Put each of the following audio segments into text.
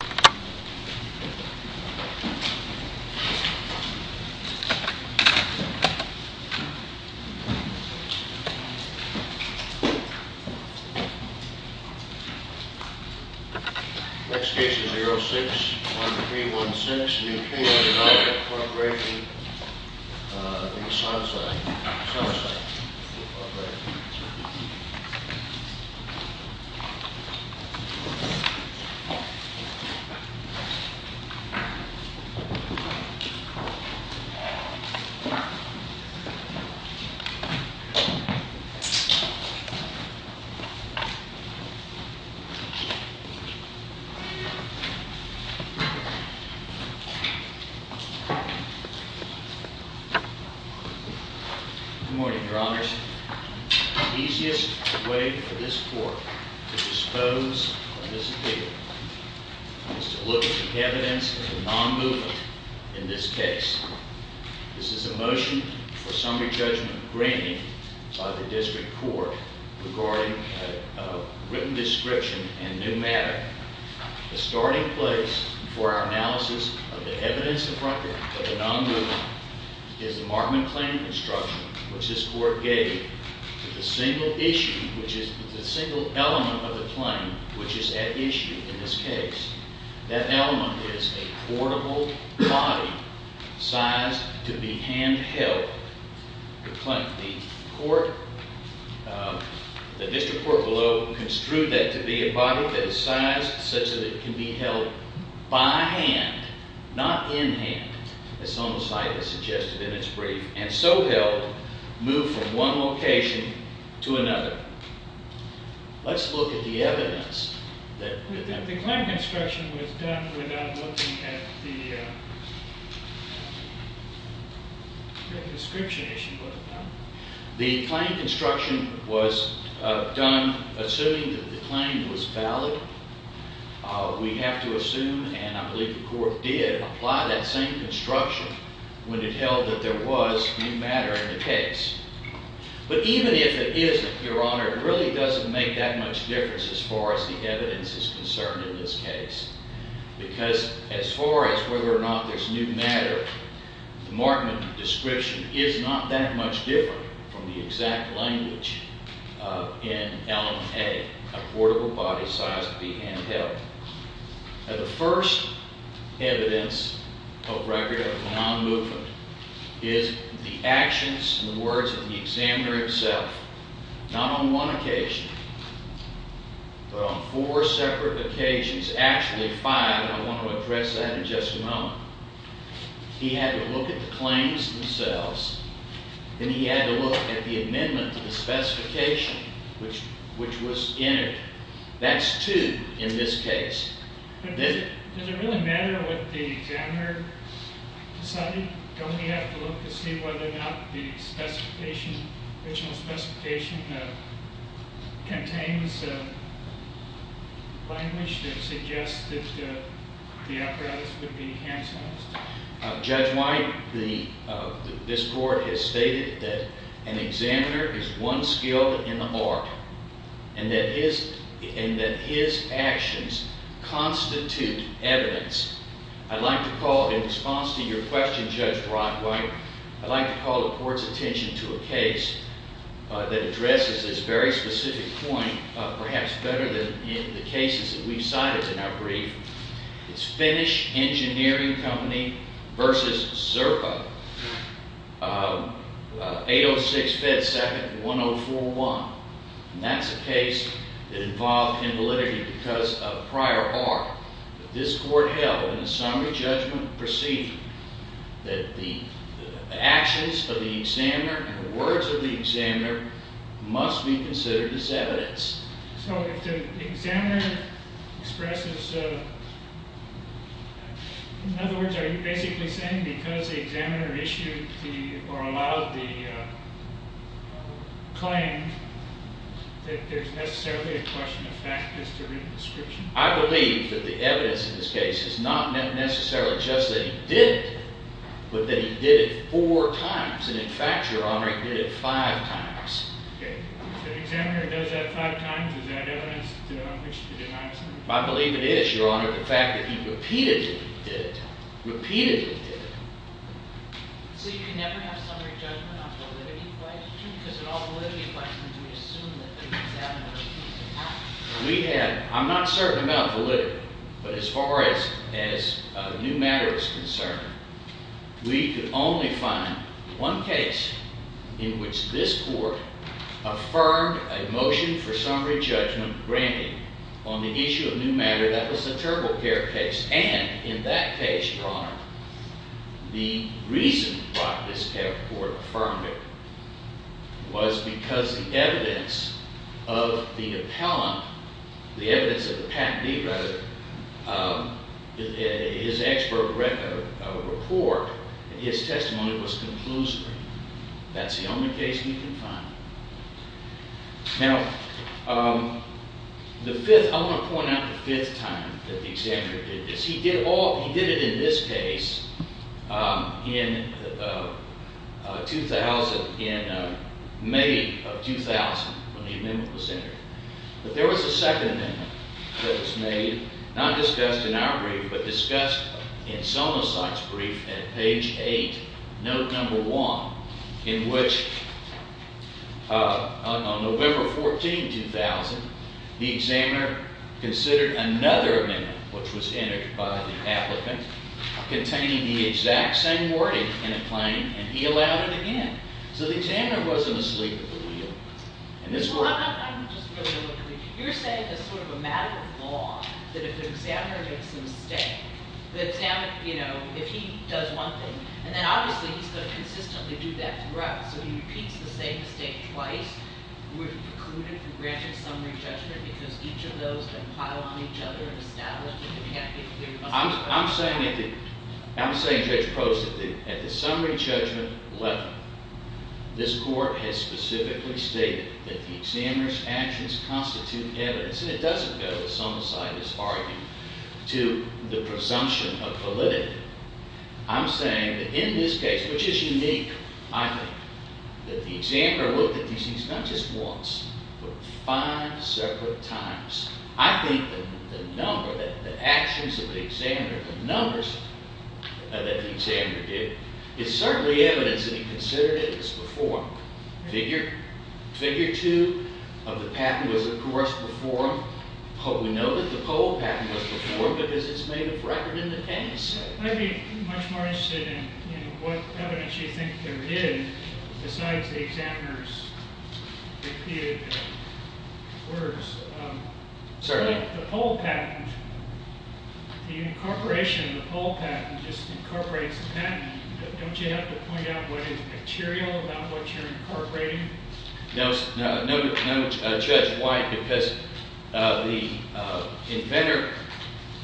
Next case is 06-1316, the opinion of the non-corporation, the Sunside Corporation. Okay, so good morning, look evidence in this case. This is a motion for summary judgment graining by the district court regarding written description and new man. The starting place for our analysis of the evidence of record of the non-human is the markman claim instruction, which is court gave to the single issue, which is the single element of the claim, which is at issue in this case. That element is a portable body sized to be hand held. The court, the district court below construed that to be a body that is sized such that it can be held by hand, not in hand, as some site has suggested in its brief, and so that it can be hand held, move from one location to another. Let's look at the evidence that- The claim construction was done without looking at the description issue. The claim construction was done assuming that the claim was valid. We have to assume, and I believe the court did apply that same construction when it held that there was new matter in the case. But even if it isn't, Your Honor, it really doesn't make that much difference as far as the evidence is concerned in this case. Because as far as whether or not there's new matter, the markman description is not that much different from the exact language in element A, a portable body sized to be hand held. Now, the first evidence of record of non-movement is the actions and the words of the examiner himself, not on one occasion, but on four separate occasions, actually five, I want to address that in just a moment. He had to look at the claims themselves, and he had to look at the amendment to the specification, which was entered. That's two in this case. Does it really matter what the examiner decided? Don't we have to look to see whether or not the original specification contains language that suggests that the apparatus would be hand-sized? Judge White, this court has stated that an examiner is one skilled in the art. And that his actions constitute evidence. I'd like to call, in response to your question, Judge Brockwhite, I'd like to call the court's attention to a case that addresses this very specific point, perhaps better than in the cases that we've cited in our brief. It's Finnish Engineering Company versus Zerpa. 806, Fed 2nd, 1041. And that's a case that involved invalidity because of prior art. This court held in a summary judgment procedure that the actions of the examiner and the words of the examiner must be considered as evidence. So if the examiner expresses, in other words, are you basically saying because the examiner issued or allowed the claim that there's necessarily a question of fact as to written description? I believe that the evidence in this case is not necessarily just that he did it, but that he did it four times. And in fact, your honor, he did it five times. Okay, so the examiner does that five times? Is that evidence on which to deny himself? I believe it is, your honor. But the fact that he repeatedly did it, repeatedly did it. So you can never have summary judgment on validity questions? Because in all validity questions, we assume that the examiner's case is valid. I'm not certain about validity. But as far as new matter is concerned, we could only find one case in which this court affirmed a motion for summary judgment, granted, on the issue of new matter. That was the TurboCare case. And in that case, your honor, the reason why this court affirmed it was because the evidence of the appellant, the evidence that the patentee wrote, his expert report, his testimony was conclusory. That's the only case we can find. Now, the fifth, I want to point out the fifth time that the examiner did this. He did it in this case in May of 2000, when the amendment was entered. But there was a second amendment that was made, not discussed in our brief, but discussed in Sonosot's brief at page 8, note number 1, in which, on November 14, 2000, the examiner considered another amendment, which was entered by the applicant, containing the exact same wording in a claim, and he allowed it again. So the examiner wasn't asleep at the wheel. And this court— Well, I'm just going to go quickly. You're saying it's sort of a matter of law that if the examiner makes a mistake, the examiner, you know, if he does one thing, and then obviously he's going to consistently do that throughout, so he repeats the same mistake twice would preclude him from granting summary judgment because each of those can pile on each other and establish that the patentee— I'm saying, Judge Prost, that at the summary judgment level, this court has specifically stated that the examiner's actions constitute evidence, and it doesn't go, as Sonosot has argued, to the presumption of validity. I'm saying that in this case, which is unique, I think, that the examiner looked at these things not just once, but five separate times. I think the number, the actions of the examiner, the numbers that the examiner did, is certainly evidence that he considered it as before. Figure 2 of the patent was, of course, performed. We know that the poll patent was performed because it's made a record in the patent set. I'd be much more interested in what evidence you think there is besides the examiner's repeated words. Certainly. The poll patent, the incorporation of the poll patent just incorporates the patent. Don't you have to point out what is material about what you're incorporating? No, Judge White, because the inventor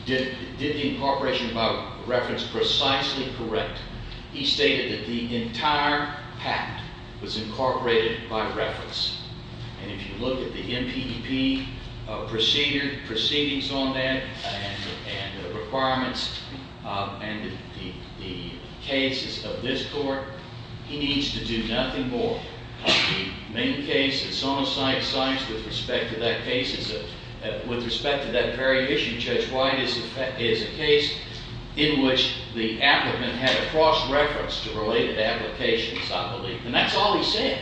did the incorporation by reference precisely correct. He stated that the entire patent was incorporated by reference. And if you look at the MPDP proceedings on that and the requirements and the cases of this court, he needs to do nothing more. The main case that's on the side of science with respect to that very issue, Judge White, is a case in which the applicant had a cross-reference to related applications, I believe. And that's all he said.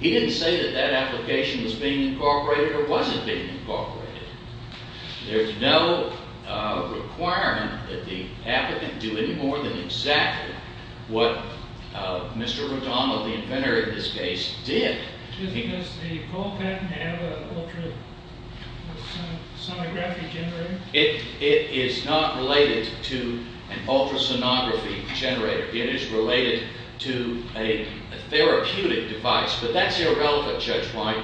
He didn't say that that application was being incorporated or wasn't being incorporated. There's no requirement that the applicant do any more than exactly what Mr. Radama, the inventor in this case, did. Does the poll patent have an ultrasonography generator? It is not related to an ultrasonography generator. It is related to a therapeutic device. But that's irrelevant, Judge White.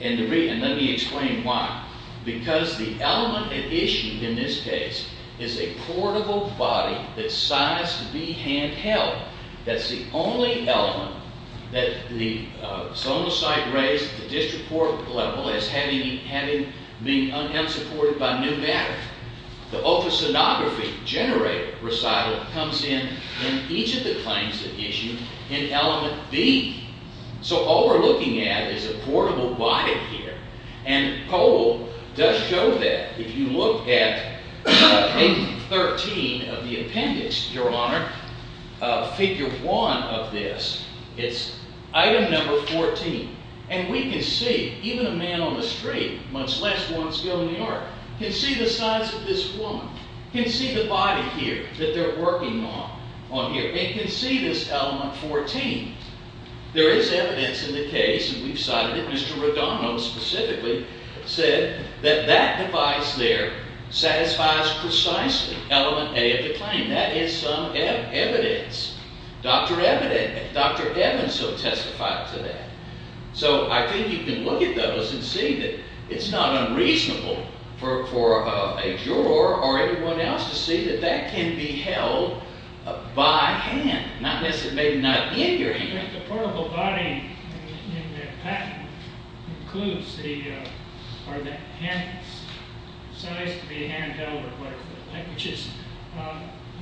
And let me explain why. Because the element at issue in this case is a portable body that's sized to be handheld. That's the only element that the Sonocyte raised at the district court level as having been unsupported by new matter. The ultrasonography generator recital comes in in each of the claims at issue in element B. So all we're looking at is a portable body here. And the poll does show that. If you look at page 13 of the appendix, Your Honor, figure 1 of this, it's item number 14. And we can see, even a man on the street, much less one still in New York, can see the size of this woman, can see the body here that they're working on here, and can see this element 14. There is evidence in the case, and we've cited it. Mr. Rodano specifically said that that device there satisfies precisely element A of the claim. That is some evidence. Dr. Evans will testify to that. So I think you can look at those and see that it's not unreasonable for a juror or anyone else to see that that can be held by hand. Not that it's maybe not in your hand. The portable body in the patent includes the size to be hand-held, which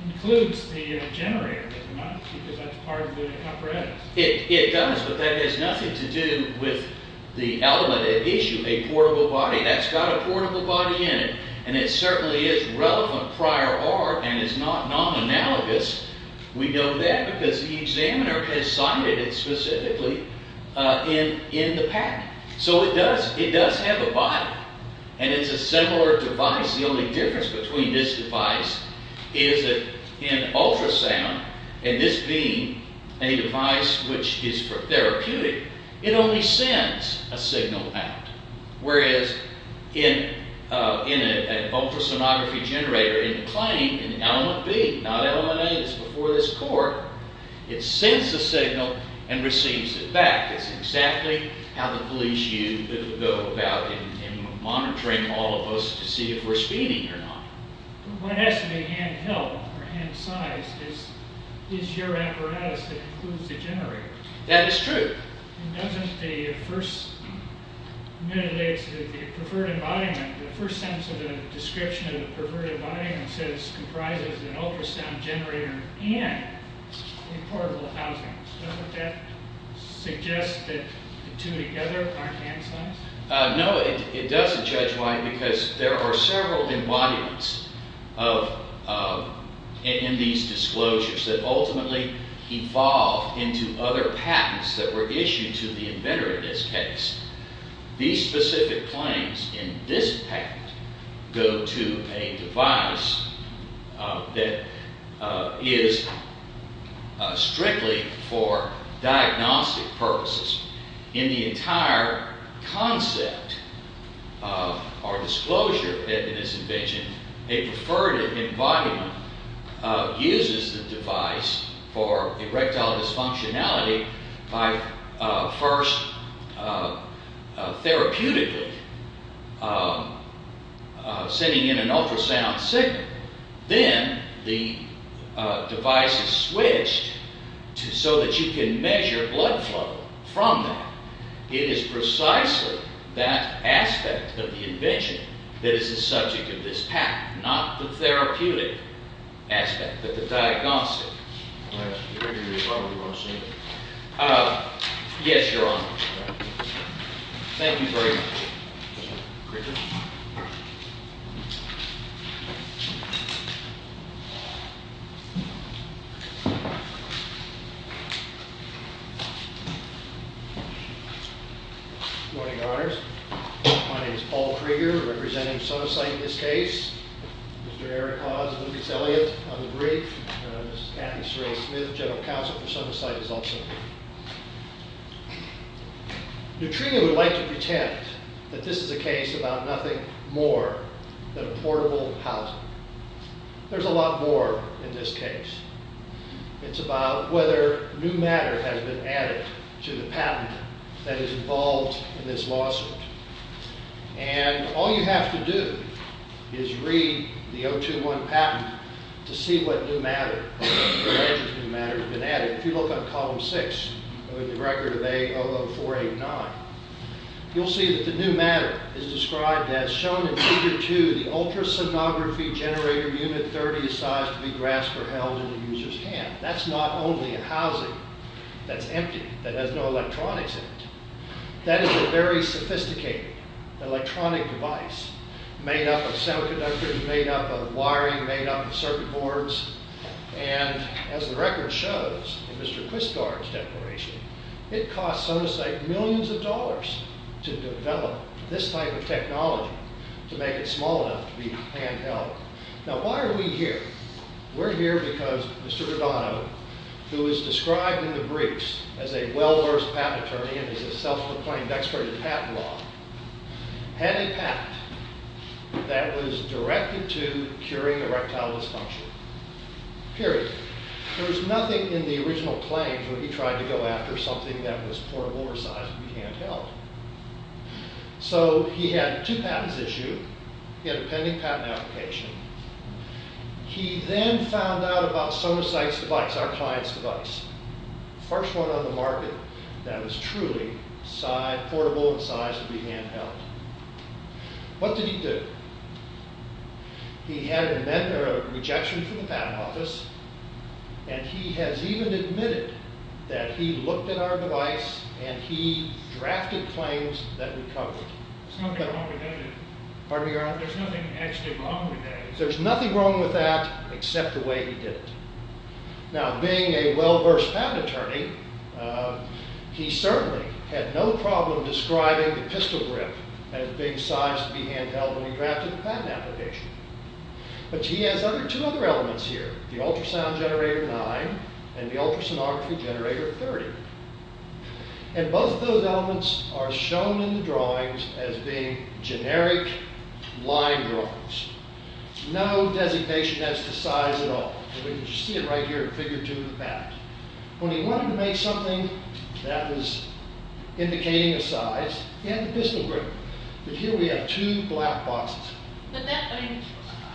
includes the generator, doesn't it? Because that's part of the apparatus. It does, but that has nothing to do with the element at issue, a portable body. That's got a portable body in it, and it certainly is relevant prior art and is not non-analogous. We know that because the examiner has cited it specifically in the patent. So it does have a body, and it's a similar device. The only difference between this device and an ultrasound, and this being a device which is for therapeutic, it only sends a signal out, whereas in an ultrasonography generator in the claim, an element B, not element A, that's before this court, it sends a signal and receives it back. That's exactly how the police used to go about in monitoring all of us to see if we're speeding or not. What has to be hand-held or hand-sized is your apparatus that includes the generator. That is true. Doesn't the first sentence of the description of the perverted embodiment comprise an ultrasound generator and a portable housing? Doesn't that suggest that the two together aren't hand-sized? No, it doesn't, Judge White, because there are several embodiments in these disclosures that ultimately evolve into other patents that were issued to the inventor in this case. These specific claims in this patent go to a device that is strictly for diagnostic purposes. In the entire concept or disclosure in this invention, a perverted embodiment uses the device for erectile dysfunctionality by first therapeutically sending in an ultrasound signal. Then the device is switched so that you can measure blood flow from that. It is precisely that aspect of the invention that is the subject of this patent, not the therapeutic aspect, but the diagnostic. Yes, Your Honor. Thank you very much. Good morning, Your Honors. My name is Paul Krieger, representing SoSite in this case. Mr. Eric Hawes and Lucas Elliott on the brief. Ms. Kathy Sorrell-Smith, General Counsel for SoSite is also here. Neutrino would like to pretend that this is a case about nothing more than a portable housing. There's a lot more in this case. It's about whether new matter has been added to the patent that is involved in this lawsuit. All you have to do is read the O2-1 patent to see what new matter has been added. If you look at column 6, the record of A00489, you'll see that the new matter is described as shown in figure 2. The ultrasonography generator unit 30 is sized to be grasped or held in the user's hand. That's not only a housing that's empty, that has no electronics in it. That is a very sophisticated electronic device made up of semiconductors, made up of wiring, made up of circuit boards. And as the record shows in Mr. Quisgard's declaration, it costs SoSite millions of dollars to develop this type of technology to make it small enough to be hand-held. Now, why are we here? We're here because Mr. Verdano, who is described in the briefs as a well-versed patent attorney and is a self-proclaimed expert in patent law, had a patent that was directed to curing erectile dysfunction, period. There was nothing in the original claims where he tried to go after something that was portable or sized to be hand-held. So he had a two patents issue. He had a pending patent application. He then found out about SoSite's device, our client's device, the first one on the market that was truly portable and sized to be hand-held. What did he do? He had a rejection from the patent office, and he has even admitted that he looked at our device and he drafted claims that recovered it. Pardon me, Your Honor? There's nothing wrong with that except the way he did it. Now, being a well-versed patent attorney, he certainly had no problem describing the pistol grip as being sized to be hand-held when he drafted the patent application. But he has two other elements here, the ultrasound generator 9 and the ultrasonography generator 30. And both of those elements are shown in the drawings as being generic line drawings. No designation as to size at all. You can see it right here in Figure 2 of the patent. When he wanted to make something that was indicating a size, he had the pistol grip. But here we have two black boxes. But that, I mean,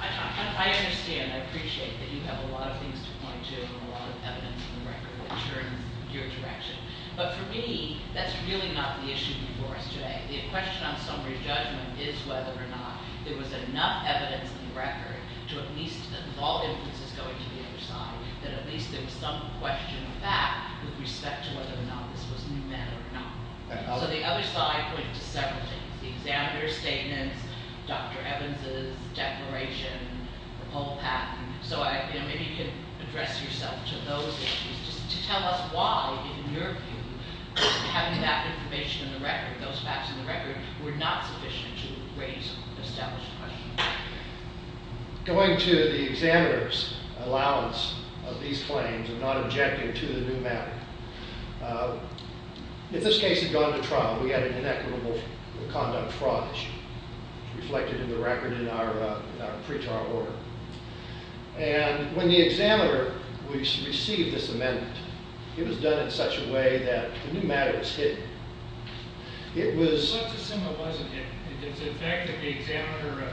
I understand, I appreciate that you have a lot of things to point to and a lot of evidence in the record that turns your direction. But for me, that's really not the issue before us today. The question on summary judgment is whether or not there was enough evidence in the record to at least, with all inferences going to the other side, that at least there was some question of fact with respect to whether or not this was meant or not. So the other side pointed to several things, the examiner's statements, Dr. Evans's declaration, the whole patent. So maybe you can address yourself to those issues, just to tell us why, in your view, having that information in the record, those facts in the record, were not sufficient to raise an established question. Going to the examiner's allowance of these claims of not objecting to the new matter, if this case had gone to trial, we had an inequitable conduct fraud issue reflected in the record in our pretrial order. And when the examiner received this amendment, it was done in such a way that the new matter was hidden. It was... What's the symbolism here? Is it the fact that the examiner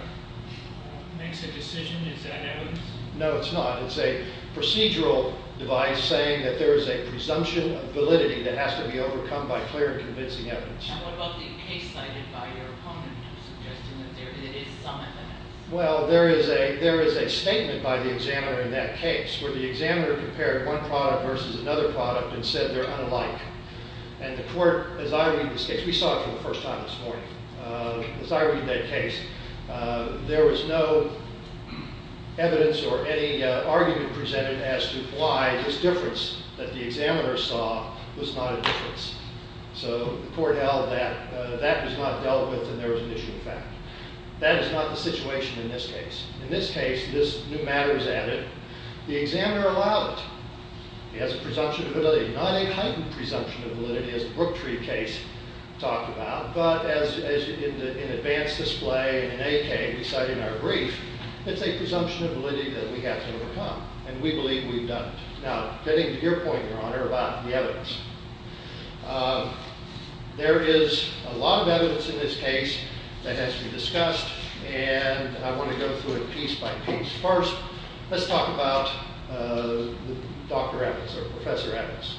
makes a decision? Is that evidence? No, it's not. It's a procedural device saying that there is a presumption of validity that has to be overcome by clear and convincing evidence. And what about the case cited by your opponent, suggesting that there is some evidence? Well, there is a statement by the examiner in that case, where the examiner compared one product versus another product and said they're unalike. And the court, as I read this case, we saw it for the first time this morning, as I read that case, there was no evidence or any argument presented as to why this difference that the examiner saw was not a difference. So the court held that that was not dealt with and there was an issue of fact. That is not the situation in this case. In this case, this new matter is added. The examiner allowed it. He has a presumption of validity. Not a heightened presumption of validity, as the Brooktree case talked about, but as in advanced display in an AK, we cite in our brief, it's a presumption of validity that we have to overcome. And we believe we've done it. Now, getting to your point, Your Honor, about the evidence. There is a lot of evidence in this case that has to be discussed, and I want to go through it piece by piece. First, let's talk about Dr. Evans, or Professor Evans.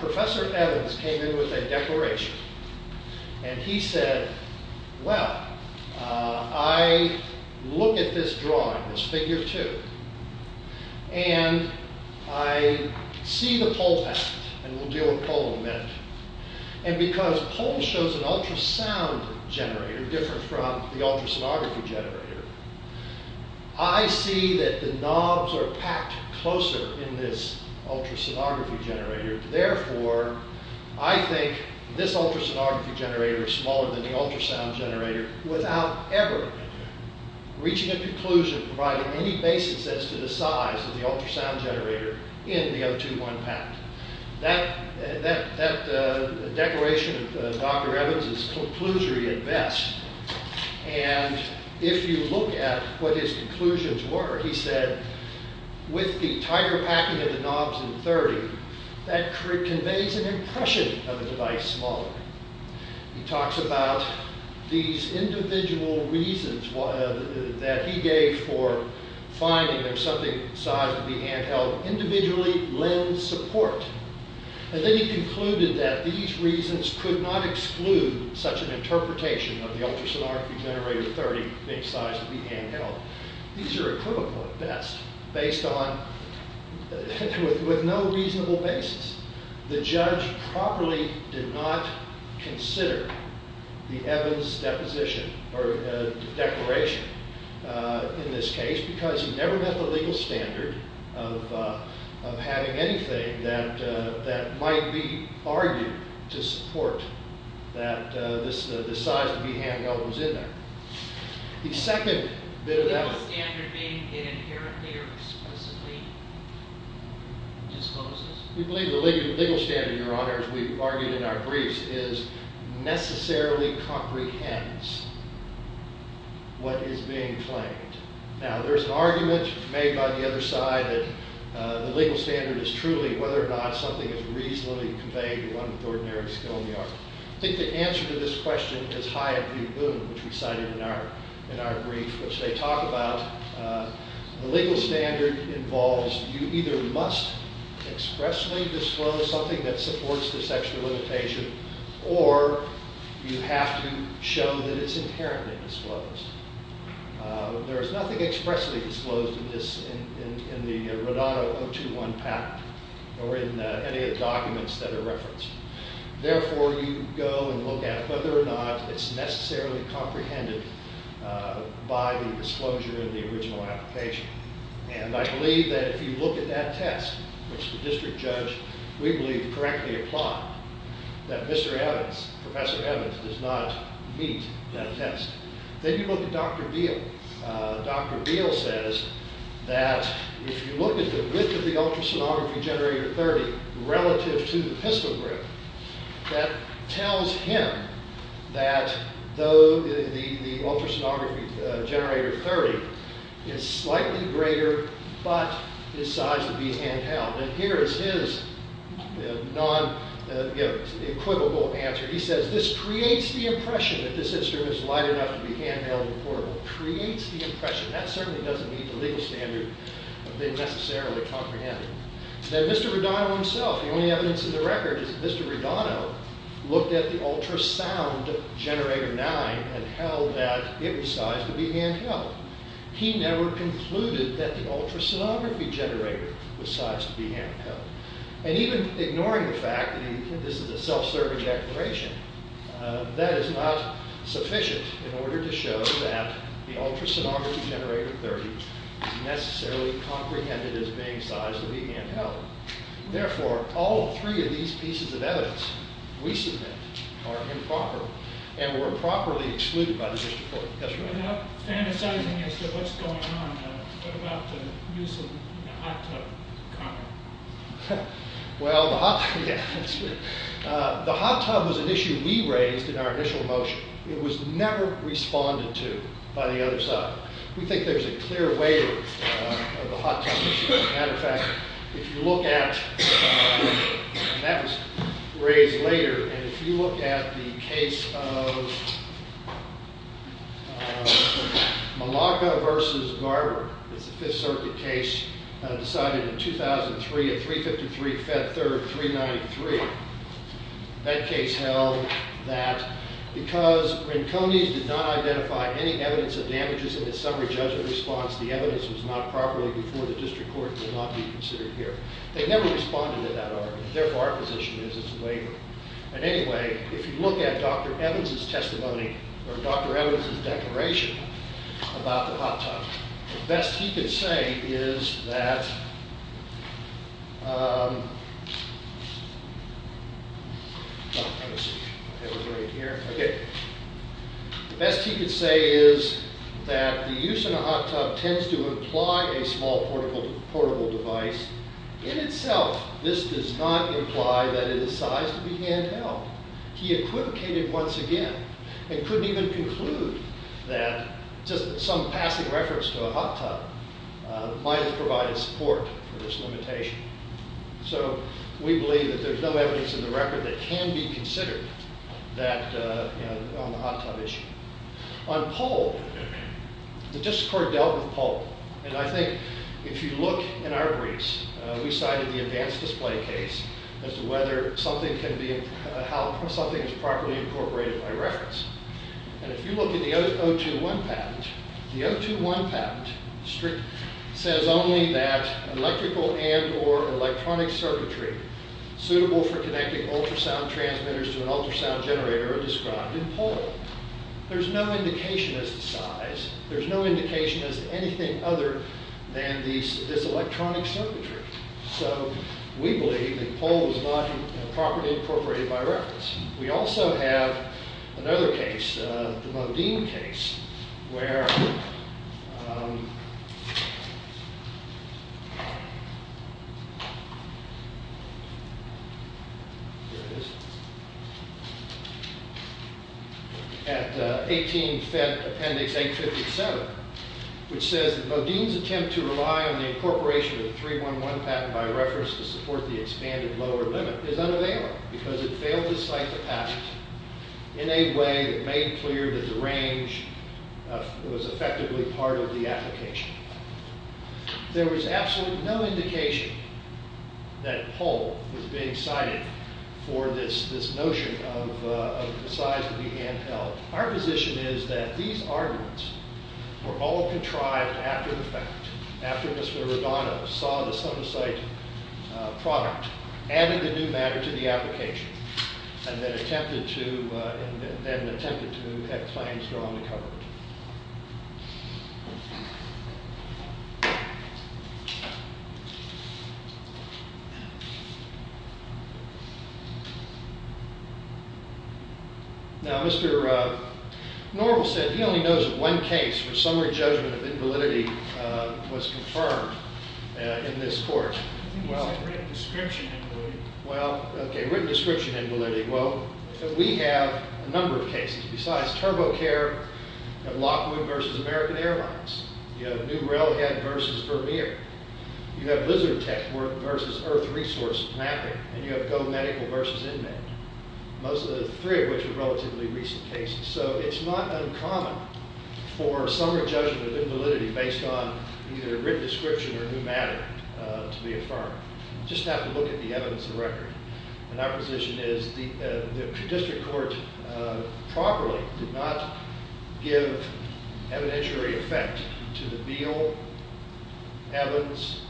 Professor Evans came in with a declaration. And he said, well, I look at this drawing, this figure two, and I see the pole fact, and we'll deal with pole in a minute. And because pole shows an ultrasound generator, different from the ultrasonography generator, I see that the knobs are packed closer in this ultrasonography generator. Therefore, I think this ultrasonography generator is smaller than the ultrasound generator without ever reaching a conclusion providing any basis as to the size of the ultrasound generator in the O2-1 pack. That declaration of Dr. Evans is conclusory at best. And if you look at what his conclusions were, he said, with the tighter packing of the knobs in 30, that conveys an impression of a device smaller. He talks about these individual reasons that he gave for finding there's something the size of the handheld individually lend support. And then he concluded that these reasons could not exclude such an interpretation of the ultrasonography generator 30 being the size of the handheld. These are equivocal at best, based on, with no reasonable basis. The judge properly did not consider the Evans deposition or declaration in this case because he never met the legal standard of having anything that might be argued to support that the size of the handheld was in there. The second bit of evidence... We believe the legal standard, Your Honor, as we've argued in our briefs, is necessarily comprehends what is being claimed. Now, there's an argument made by the other side that the legal standard is truly whether or not something is reasonably conveyed to one with ordinary skill in the art. I think the answer to this question is high in view of Boone, which we cited in our brief, which they talk about. The legal standard involves you either must expressly disclose something that supports this extra limitation, or you have to show that it's inherently disclosed. There is nothing expressly disclosed in the Rodato 021 patent or in any of the documents that are referenced. Therefore, you go and look at whether or not it's necessarily comprehended by the disclosure in the original application. And I believe that if you look at that test, which the district judge, we believe, correctly applied, that Mr. Evans, Professor Evans, does not meet that test. Then you look at Dr. Beal. Dr. Beal says that if you look at the width of the ultrasonography generator 30 relative to the pistol grip, that tells him that though the ultrasonography generator 30 is slightly greater, but his size would be handheld. And here is his non-equivalent answer. He says, this creates the impression that this instrument is light enough to be handheld and portable. Creates the impression. That certainly doesn't meet the legal standard of being necessarily comprehended. Now, Mr. Rodato himself, the only evidence in the record is that Mr. Rodato looked at the ultrasound generator 9 and held that it was sized to be handheld. He never concluded that the ultrasonography generator was sized to be handheld. And even ignoring the fact that this is a self-serving declaration, that is not sufficient in order to show that the ultrasonography generator 30 is necessarily comprehended as being sized to be handheld. Therefore, all three of these pieces of evidence we submit are improper and were improperly excluded by the district court. Without fantasizing as to what's going on, what about the use of the hot tub comment? Well, the hot tub was an issue we raised in our initial motion. It was never responded to by the other side. We think there's a clear way of the hot tub issue. As a matter of fact, if you look at, and that was raised later, and if you look at the case of Malacca versus Garber, it's a Fifth Circuit case decided in 2003 at 353 Fed Third 393. That case held that because Brinconi's did not identify any evidence of damages in the summary judgment response, the evidence was not properly before the district court and will not be considered here. They never responded to that argument. Therefore, our position is it's a waiver. And anyway, if you look at Dr. Evans' testimony or Dr. Evans' declaration about the hot tub, the best he could say is that the use in a hot tub tends to imply a small portable device in itself. This does not imply that it is sized to be handheld. He equivocated once again and couldn't even conclude that just some passing reference to a hot tub might have provided support for this limitation. So we believe that there's no evidence in the record that can be considered on the hot tub issue. On Poll, the district court dealt with Poll. And I think if you look in our briefs, we cited the advanced display case as to whether something can be, how something is properly incorporated by reference. And if you look at the O2-1 patent, the O2-1 patent says only that electrical and or electronic circuitry suitable for connecting ultrasound transmitters to an ultrasound generator are described in Poll. There's no indication as to size. There's no indication as to anything other than this electronic circuitry. So we believe that Poll was not properly incorporated by reference. We also have another case, the Modine case, where at 18 Fed Appendix 857, which says that Modine's attempt to rely on the incorporation of the 3-1-1 patent by reference to support the expanded lower limit is unavailable because it failed to cite the patent in a way that made clear that the range was effectively part of the application. There was absolutely no indication that Poll was being cited for this notion of the size of the handheld. Our position is that these arguments were all contrived after the fact, after Mr. Rigano saw the so-to-cite product, added the new matter to the application, and then attempted to have claims go undercover. Now, Mr. Norville said he only knows of one case where summary judgment of invalidity was confirmed in this court. I think he said written description of invalidity. Well, OK, written description of invalidity. Well, we have a number of cases. Besides TurboCare, you have Lockwood versus American Airlines. You have New Railhead versus Vermeer. You have Lizard Tech versus Earth Resources Mapping. And you have Go Medical versus InMed, three of which are relatively recent cases. So it's not uncommon for summary judgment of invalidity based on either a written description or new matter to be affirmed. You just have to look at the evidence of record. And our position is the district court properly did not give evidentiary effect to the Beal, Evans,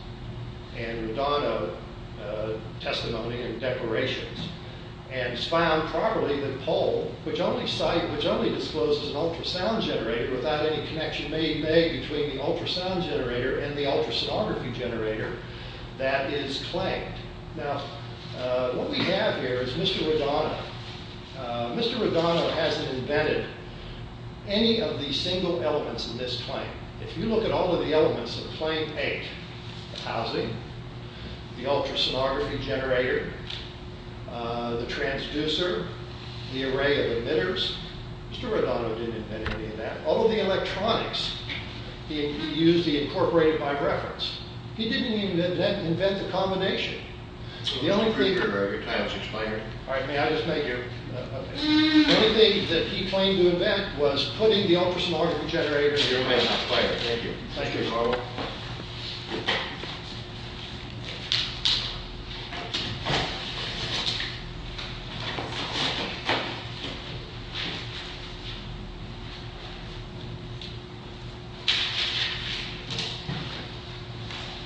and Rigano testimony and declarations. And it's found properly that Poll, which only disclosed as an ultrasound generator without any connection made between the ultrasound generator and the ultrasonography generator, that is claimed. Now, what we have here is Mr. Rigano. Mr. Rigano hasn't invented any of the single elements in this claim. If you look at all of the elements of claim eight, the housing, the ultrasonography generator, the transducer, the array of emitters, Mr. Rigano didn't invent any of that. All of the electronics he used, he incorporated by reference. He didn't even invent the combination. The only thing that he claimed to invent was putting the ultrasonography generator in there. Thank you.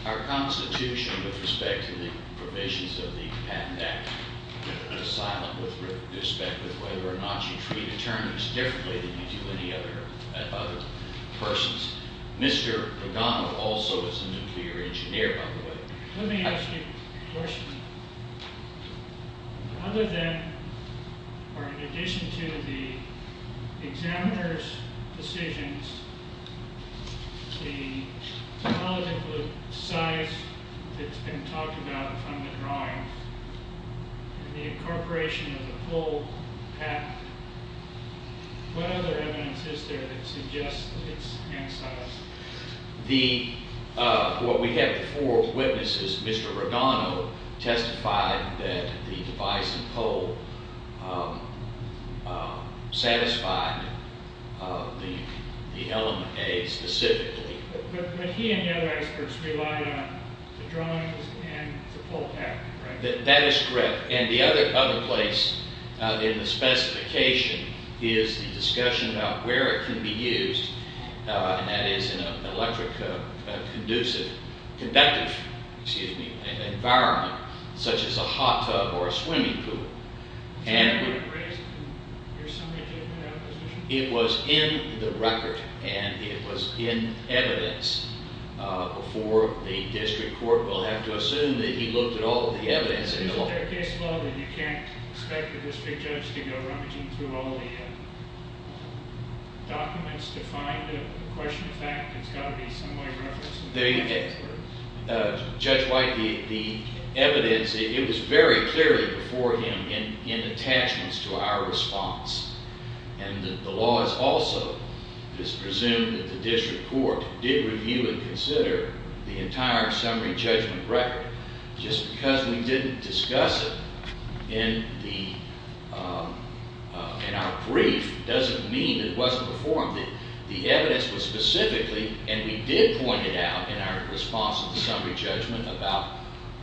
Our constitution, with respect to the provisions of the Patent Act, is silent with respect to whether or not you treat attorneys differently than you do any other persons. Mr. Rigano also is a nuclear engineer, by the way. Let me ask you a question. Other than, or in addition to, the examiner's decisions, the political size that's been talked about from the drawings, and the incorporation of the whole patent, what other evidence is there that suggests that it's ancillary? What we have for witnesses, Mr. Rigano testified that the device and pole satisfied the element A specifically. But he and the other experts relied on the drawings and the pole patent, right? That is correct. And the other place in the specification is the discussion about where it can be used, and that is in an electric conductive environment, such as a hot tub or a swimming pool. It was in the record, and it was in evidence before the district court will have to assume that he looked at all of the evidence in the law. There's a third case law that you can't expect the district judge to go rummaging through all the documents to find a question of fact. It's got to be some way of referencing. Judge White, the evidence, it was very clearly before him in attachments to our response. And the law is also presumed that the district court did review and consider the entire summary judgment record. Just because we didn't discuss it in our brief doesn't mean it wasn't performed. The evidence was specifically, and we did point it out in our response to the summary judgment about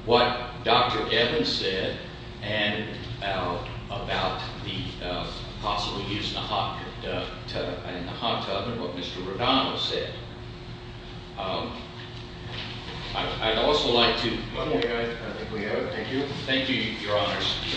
what Dr. Evans said and about the possible use in the hot tub and what Mr. Rodano said. I'd also like to- One more guy, I think we have it. Thank you, your honors.